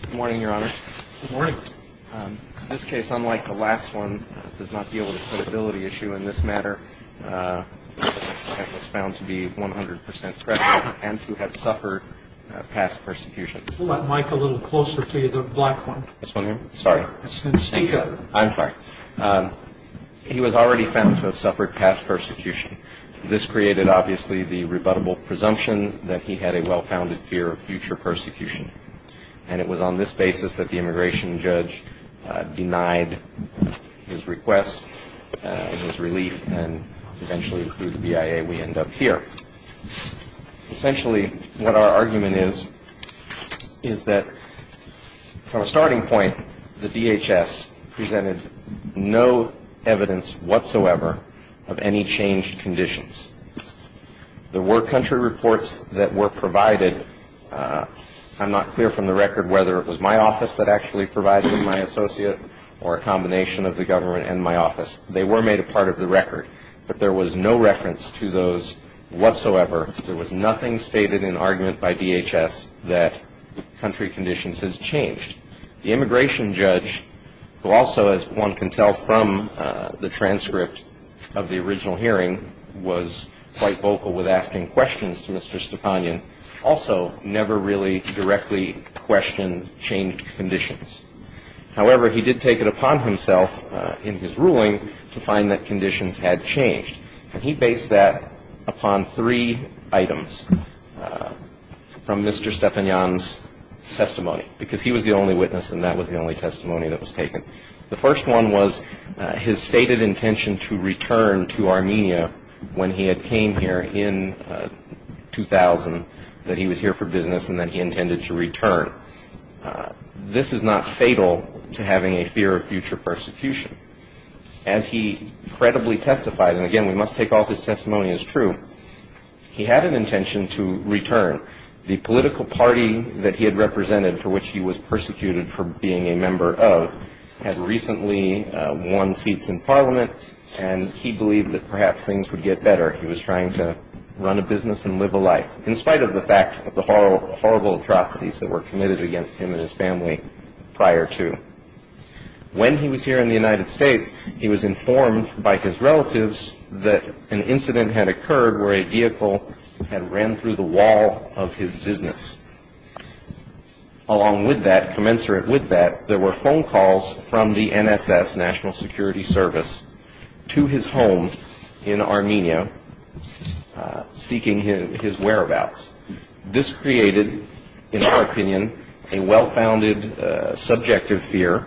Good morning, your honor. Good morning. In this case, unlike the last one, it does not deal with a credibility issue in this matter. It was found to be 100 percent correct and to have suffered past persecution. Pull that mic a little closer to you, the black one. This one here? Sorry. I'm sorry. He was already found to have suffered past persecution. This created, obviously, the rebuttable presumption that he had a well-founded fear of future persecution. And it was on this basis that the immigration judge denied his request and his relief, and eventually, through the BIA, we end up here. Essentially, what our argument is, is that from a starting point, the DHS presented no evidence whatsoever of any changed conditions. There were country reports that were provided. I'm not clear from the record whether it was my office that actually provided them, my associate, or a combination of the government and my office. They were made a part of the record. But there was no reference to those whatsoever. There was nothing stated in argument by DHS that country conditions has changed. The immigration judge, who also, as one can tell from the transcript of the original hearing, was quite vocal with asking questions to Mr. Stepanyan, also never really directly questioned changed conditions. However, he did take it upon himself in his ruling to find that conditions had changed. And he based that upon three items from Mr. Stepanyan's testimony, because he was the only witness and that was the only testimony that was taken. The first one was his stated intention to return to Armenia when he had came here in 2000, that he was here for business and that he intended to return. This is not fatal to having a fear of future persecution. As he credibly testified, and again, we must take all of his testimony as true, he had an intention to return. The political party that he had represented, for which he was persecuted for being a member of, had recently won seats in Parliament, and he believed that perhaps things would get better. He was trying to run a business and live a life, in spite of the fact of the horrible atrocities that were committed against him and his family prior to. When he was here in the United States, he was informed by his relatives that an incident had occurred where a vehicle had ran through the wall of his business. Along with that, commensurate with that, there were phone calls from the NSS, National Security Service, to his home in Armenia, seeking his whereabouts. This created, in our opinion, a well-founded subjective fear,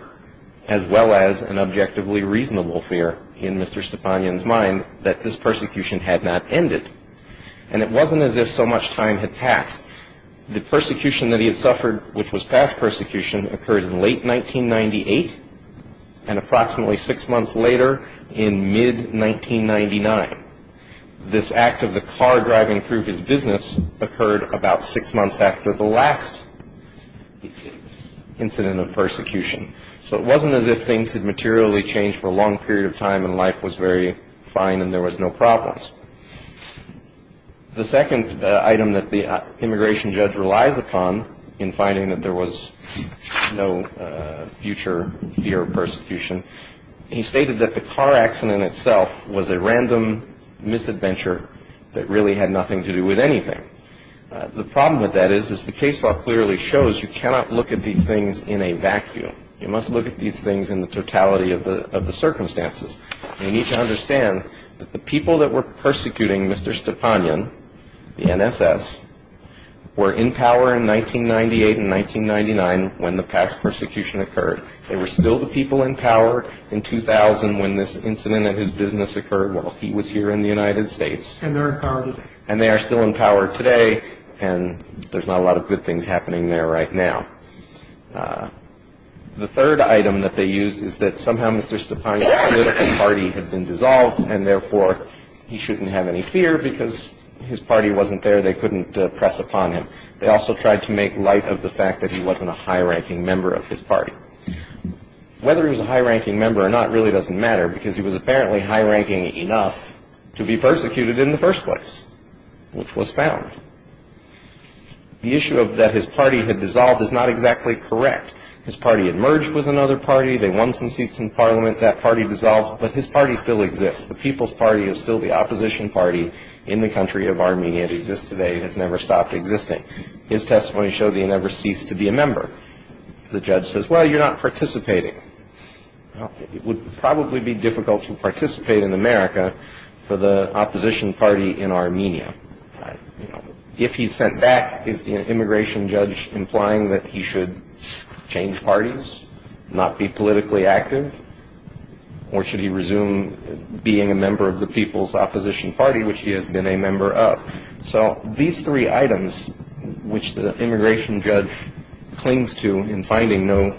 as well as an objectively reasonable fear in Mr. Stepanyan's mind that this persecution had not ended. And it wasn't as if so much time had passed. The persecution that he had suffered, which was past persecution, occurred in late 1998, and approximately six months later, in mid-1999. This act of the car driving through his business occurred about six months after the last incident of persecution. So it wasn't as if things had materially changed for a long period of time and life was very fine and there was no problems. The second item that the immigration judge relies upon in finding that there was no future fear of persecution, he stated that the car accident itself was a random misadventure that really had nothing to do with anything. The problem with that is, as the case law clearly shows, you cannot look at these things in a vacuum. You must look at these things in the totality of the circumstances. You need to understand that the people that were persecuting Mr. Stepanyan, the NSS, were in power in 1998 and 1999 when the past persecution occurred. They were still the people in power in 2000 when this incident at his business occurred while he was here in the United States. And they're in power today. And they are still in power today and there's not a lot of good things happening there right now. The third item that they used is that somehow Mr. Stepanyan's political party had been dissolved and therefore he shouldn't have any fear because his party wasn't there. They couldn't press upon him. They also tried to make light of the fact that he wasn't a high-ranking member of his party. Whether he was a high-ranking member or not really doesn't matter because he was apparently high-ranking enough to be persecuted in the first place, which was found. The issue of that his party had dissolved is not exactly correct. His party had merged with another party. They won some seats in parliament. That party dissolved. But his party still exists. The People's Party is still the opposition party in the country of Armenia that exists today and has never stopped existing. His testimony showed that he never ceased to be a member. The judge says, well, you're not participating. It would probably be difficult to participate in America for the opposition party in Armenia. If he's sent back, is the immigration judge implying that he should change parties, not be politically active, or should he resume being a member of the People's Opposition Party, which he has been a member of? So these three items, which the immigration judge clings to in finding no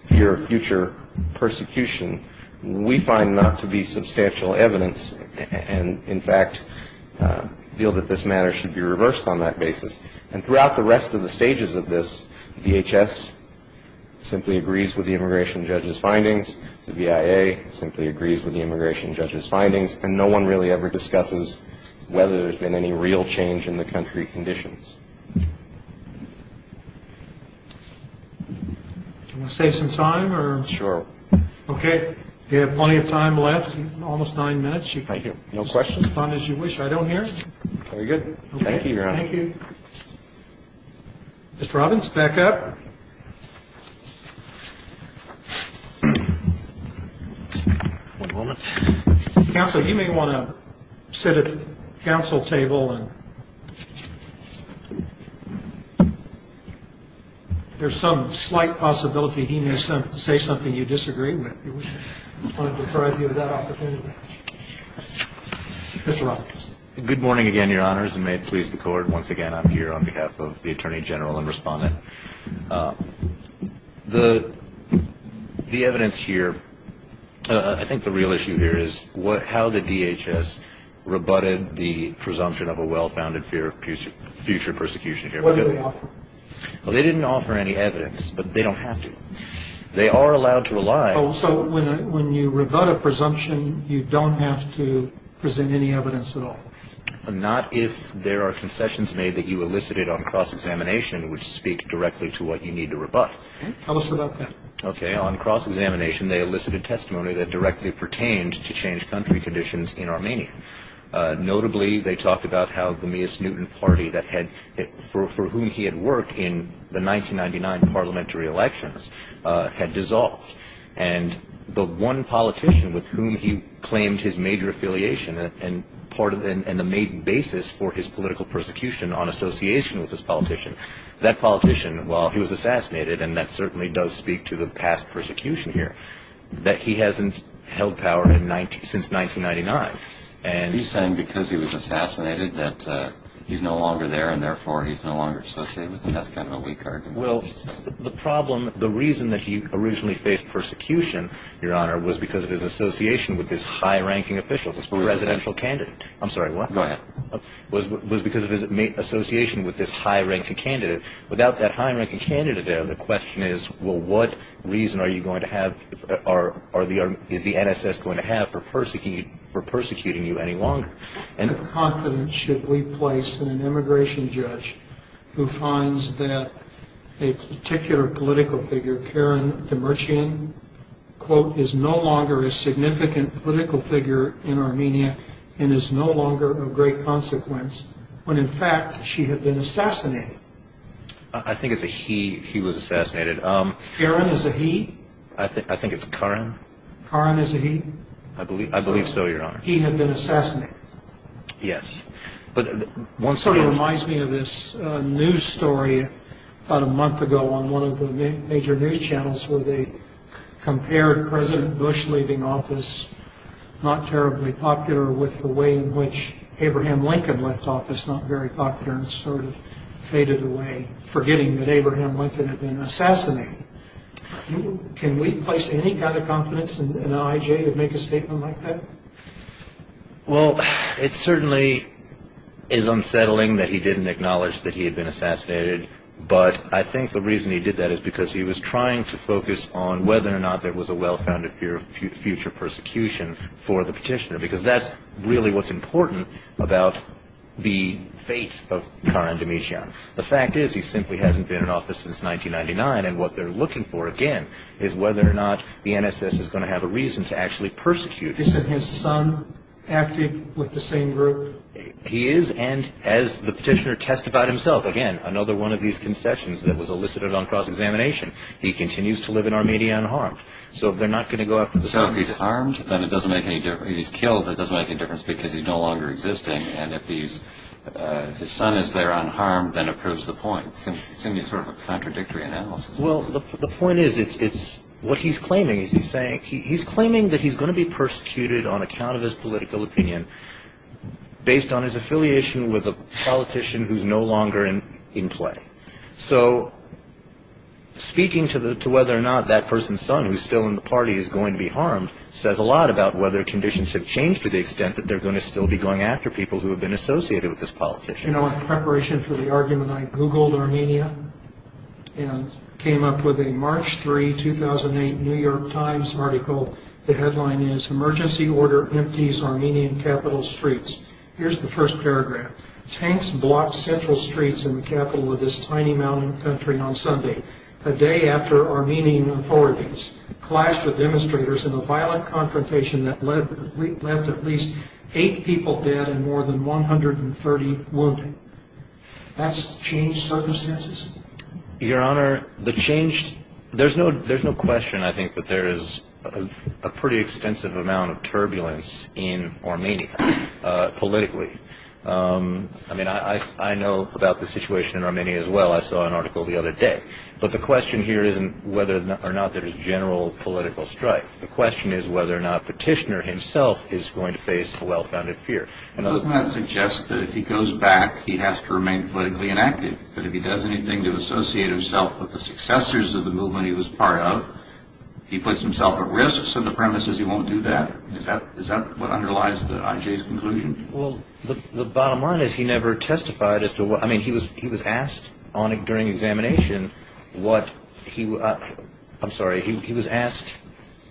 fear of future persecution, we find not to be substantial evidence and, in fact, feel that this matter should be reversed on that basis. And throughout the rest of the stages of this, DHS simply agrees with the immigration judge's findings. The VIA simply agrees with the immigration judge's findings. And no one really ever discusses whether there's been any real change in the country's conditions. Want to save some time? Sure. Okay. We have plenty of time left, almost nine minutes. Thank you. No questions? Respond as you wish. I don't hear. Very good. Thank you, Your Honor. Thank you. Mr. Robbins, back up. One moment. Counsel, you may want to sit at the counsel table. If there's some slight possibility he may say something you disagree with, we want to deprive you of that opportunity. Mr. Robbins. Good morning again, Your Honors, and may it please the Court, once again I'm here on behalf of the Attorney General and Respondent. The evidence here, I think the real issue here is how the DHS rebutted the presumption of a well-founded fear of future persecution. What did they offer? They didn't offer any evidence, but they don't have to. They are allowed to rely. So when you rebut a presumption, you don't have to present any evidence at all? Not if there are concessions made that you elicited on cross-examination, which speak directly to what you need to rebut. Tell us about that. Okay. On cross-examination, they elicited testimony that directly pertained to changed country conditions in Armenia. Notably, they talked about how the Mias Newton party for whom he had worked in the 1999 parliamentary elections had dissolved, and the one politician with whom he claimed his major affiliation and the main basis for his political persecution on association with this politician, that politician, while he was assassinated, and that certainly does speak to the past persecution here, that he hasn't held power since 1999. Are you saying because he was assassinated that he's no longer there and therefore he's no longer associated with them? That's kind of a weak argument. Well, the problem, the reason that he originally faced persecution, Your Honor, was because of his association with this high-ranking official, this presidential candidate. I'm sorry, what? Go ahead. Was because of his association with this high-ranking candidate. Without that high-ranking candidate there, the question is, well, what reason are you going to have, is the NSS going to have for persecuting you any longer? What confidence should we place in an immigration judge who finds that a particular political figure, Karen Demircian, quote, is no longer a significant political figure in Armenia and is no longer of great consequence when, in fact, she had been assassinated? I think it's a he, he was assassinated. Karen is a he? I think it's Karen. Karen is a he? I believe so, Your Honor. He had been assassinated? Yes. It sort of reminds me of this news story about a month ago on one of the major news channels where they compared President Bush leaving office, not terribly popular, with the way in which Abraham Lincoln left office, not very popular, and sort of faded away, forgetting that Abraham Lincoln had been assassinated. Can we place any kind of confidence in an IJ to make a statement like that? Well, it certainly is unsettling that he didn't acknowledge that he had been assassinated, but I think the reason he did that is because he was trying to focus on whether or not there was a well-founded fear of future persecution for the petitioner, because that's really what's important about the fate of Karen Demircian. The fact is he simply hasn't been in office since 1999, and what they're looking for, again, is whether or not the NSS is going to have a reason to actually persecute him. Is it his son acting with the same group? He is, and as the petitioner testified himself, again, another one of these concessions that was elicited on cross-examination, he continues to live in Armenia unharmed. So if they're not going to go after the son. So if he's harmed, then it doesn't make any difference. If he's killed, that doesn't make any difference because he's no longer existing, and if his son is there unharmed, then it proves the point. It seems sort of a contradictory analysis. Well, the point is it's what he's claiming. He's claiming that he's going to be persecuted on account of his political opinion based on his affiliation with a politician who's no longer in play. So speaking to whether or not that person's son, who's still in the party, is going to be harmed says a lot about whether conditions have changed to the extent that they're going to still be going after people who have been associated with this politician. You know, in preparation for the argument, I Googled Armenia and came up with a March 3, 2008 New York Times article. The headline is, Emergency Order Empties Armenian Capital Streets. Here's the first paragraph. Tanks blocked central streets in the capital of this tiny mountain country on Sunday, a day after Armenian authorities clashed with demonstrators in a violent confrontation that left at least eight people dead and more than 130 wounded. That's changed circumstances? Your Honor, the change, there's no question, I think, that there is a pretty extensive amount of turbulence in Armenia politically. I mean, I know about the situation in Armenia as well. I saw an article the other day. But the question here isn't whether or not there is general political strife. The question is whether or not Petitioner himself is going to face a well-founded fear. Doesn't that suggest that if he goes back, he has to remain politically inactive? That if he does anything to associate himself with the successors of the movement he was part of, he puts himself at risk, so the premise is he won't do that? Is that what underlies the IJ's conclusion? Well, the bottom line is he never testified as to what – I mean, he was asked during examination what – I'm sorry. He was asked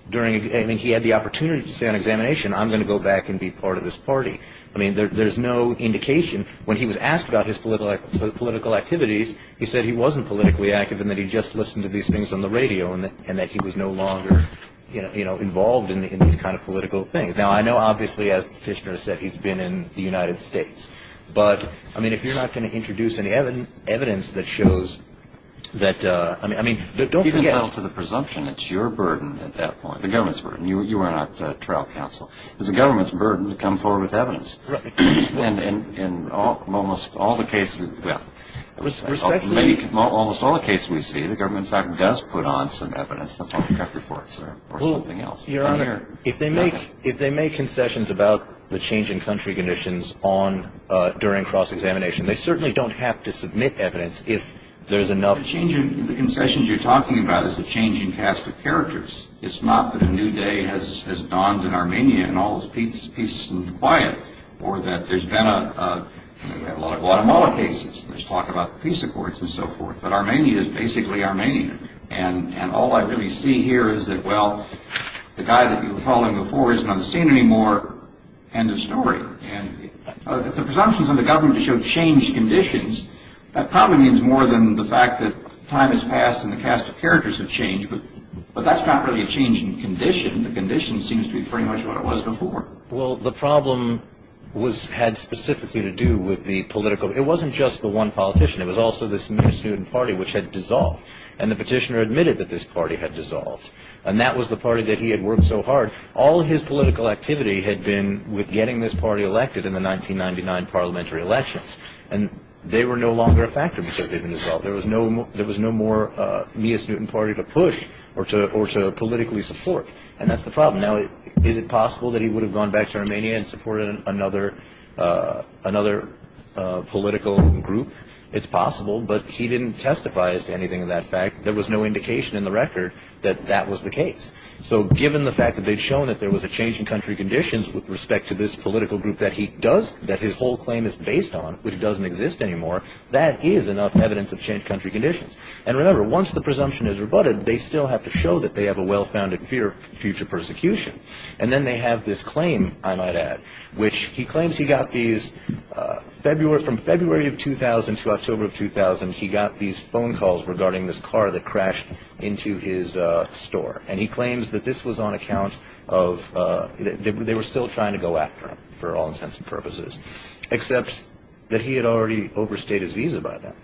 during – I mean, he had the opportunity to say on examination, I'm going to go back and be part of this party. I mean, there's no indication. When he was asked about his political activities, he said he wasn't politically active and that he just listened to these things on the radio and that he was no longer involved in these kind of political things. Now, I know, obviously, as Petitioner said, he's been in the United States. But, I mean, if you're not going to introduce any evidence that shows that – I mean, don't forget – He's entitled to the presumption. It's your burden at that point, the government's burden. You are not trial counsel. It's the government's burden to come forward with evidence. And in almost all the cases – well, almost all the cases we see, the government, in fact, does put on some evidence, the public health reports or something else. Your Honor, if they make concessions about the change in country conditions during cross-examination, they certainly don't have to submit evidence if there's enough – The concessions you're talking about is the change in caste of characters. It's not that a new day has dawned in Armenia and all is peace and quiet or that there's been a – we have a lot of Guatemala cases. There's talk about peace accords and so forth. But Armenia is basically Armenia. And all I really see here is that, well, the guy that you were following before isn't on the scene anymore. End of story. And if the presumption is on the government to show changed conditions, that probably means more than the fact that time has passed and the caste of characters have changed. But that's not really a change in condition. The condition seems to be pretty much what it was before. Well, the problem was – had specifically to do with the political – it wasn't just the one politician. It was also this new student party which had dissolved. And the petitioner admitted that this party had dissolved. And that was the party that he had worked so hard. All his political activity had been with getting this party elected in the 1999 parliamentary elections. And they were no longer a factor because they didn't dissolve. There was no more Mias Newton party to push or to politically support. And that's the problem. Now, is it possible that he would have gone back to Armenia and supported another political group? It's possible. But he didn't testify as to anything of that fact. There was no indication in the record that that was the case. So given the fact that they'd shown that there was a change in country conditions with respect to this political group that he does – that his whole claim is based on, which doesn't exist anymore, that is enough evidence of changed country conditions. And remember, once the presumption is rebutted, they still have to show that they have a well-founded fear of future persecution. And then they have this claim, I might add, which he claims he got these – from February of 2000 to October of 2000, he got these phone calls regarding this car that crashed into his store. And he claims that this was on account of – they were still trying to go after him for all intents and purposes, except that he had already overstayed his visa by then.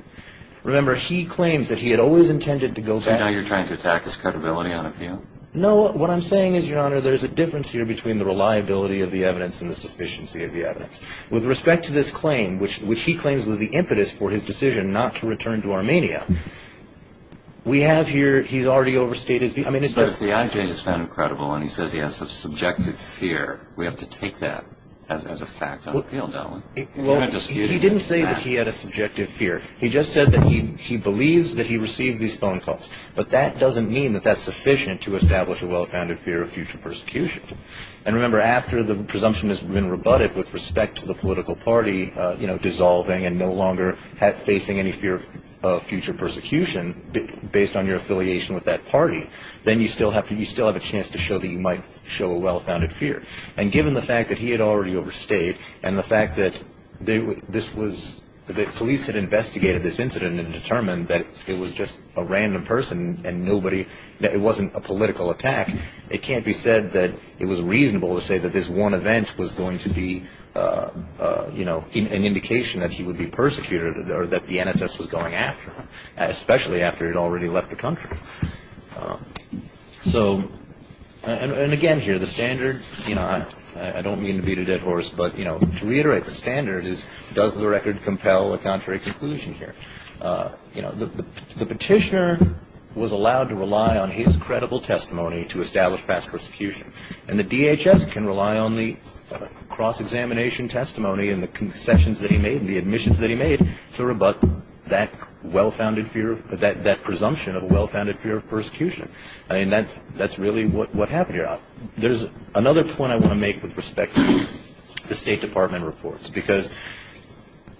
Remember, he claims that he had always intended to go back. So now you're trying to attack his credibility on a view? No, what I'm saying is, Your Honor, there's a difference here between the reliability of the evidence and the sufficiency of the evidence. With respect to this claim, which he claims was the impetus for his decision not to return to Armenia, we have here – he's already overstayed his – I mean, it's just – But if the IG has found him credible and he says he has some subjective fear, we have to take that as a fact on appeal, don't we? Well, he didn't say that he had a subjective fear. He just said that he believes that he received these phone calls. But that doesn't mean that that's sufficient to establish a well-founded fear of future persecution. And remember, after the presumption has been rebutted with respect to the political party dissolving and no longer facing any fear of future persecution based on your affiliation with that party, then you still have a chance to show that you might show a well-founded fear. And given the fact that he had already overstayed and the fact that this was – and nobody – it wasn't a political attack. It can't be said that it was reasonable to say that this one event was going to be, you know, an indication that he would be persecuted or that the NSS was going after him, especially after he had already left the country. So – and again here, the standard – you know, I don't mean to beat a dead horse, but, you know, to reiterate, the standard is does the record compel a contrary conclusion here? You know, the petitioner was allowed to rely on his credible testimony to establish past persecution. And the DHS can rely on the cross-examination testimony and the concessions that he made and the admissions that he made to rebut that well-founded fear – that presumption of a well-founded fear of persecution. I mean, that's really what happened here. There's another point I want to make with respect to the State Department reports, because,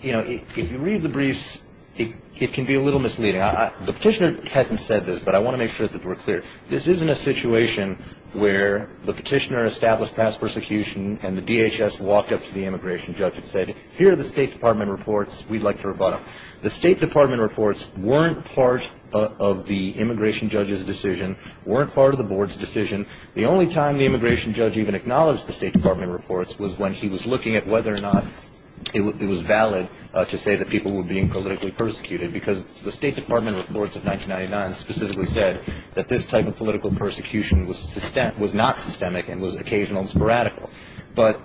you know, if you read the briefs, it can be a little misleading. The petitioner hasn't said this, but I want to make sure that we're clear. This isn't a situation where the petitioner established past persecution and the DHS walked up to the immigration judge and said, here are the State Department reports. We'd like to rebut them. The State Department reports weren't part of the immigration judge's decision, weren't part of the board's decision. The only time the immigration judge even acknowledged the State Department reports was when he was looking at whether or not it was valid to say that people were being politically persecuted, because the State Department reports of 1999 specifically said that this type of political persecution was not systemic and was occasional and sporadic. But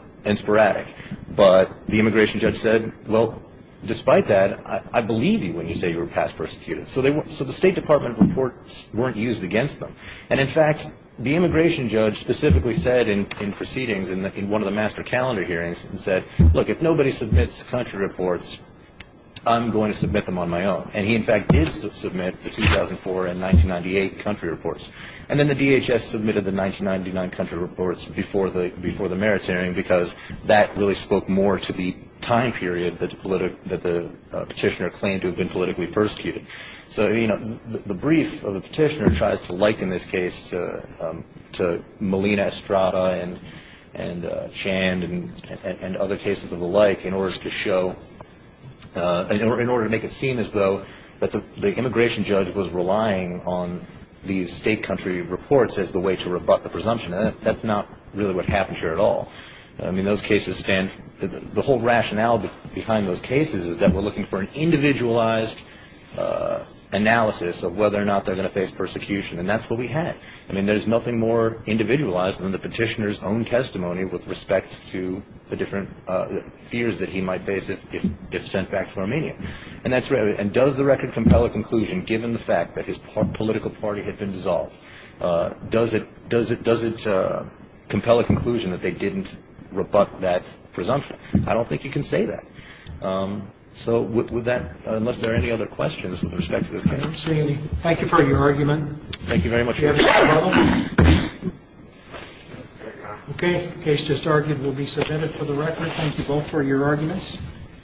the immigration judge said, well, despite that, I believe you when you say you were past persecuted. So the State Department reports weren't used against them. And, in fact, the immigration judge specifically said in proceedings, in one of the master calendar hearings, he said, look, if nobody submits country reports, I'm going to submit them on my own. And he, in fact, did submit the 2004 and 1998 country reports. And then the DHS submitted the 1999 country reports before the merits hearing, because that really spoke more to the time period that the petitioner claimed to have been politically persecuted. So, you know, the brief of the petitioner tries to liken this case to Malina Estrada and Chand and other cases of the like in order to show, in order to make it seem as though the immigration judge was relying on these state country reports as the way to rebut the presumption. That's not really what happened here at all. I mean, those cases stand, the whole rationale behind those cases is that we're looking for an individualized analysis of whether or not they're going to face persecution. And that's what we had. I mean, there's nothing more individualized than the petitioner's own testimony with respect to the different fears that he might face if sent back to Armenia. And does the record compel a conclusion, given the fact that his political party had been dissolved? Does it compel a conclusion that they didn't rebut that presumption? I don't think you can say that. So with that, unless there are any other questions with respect to this case. Thank you for your argument. Thank you very much. Okay. The case just argued will be submitted for the record. Thank you both for your arguments.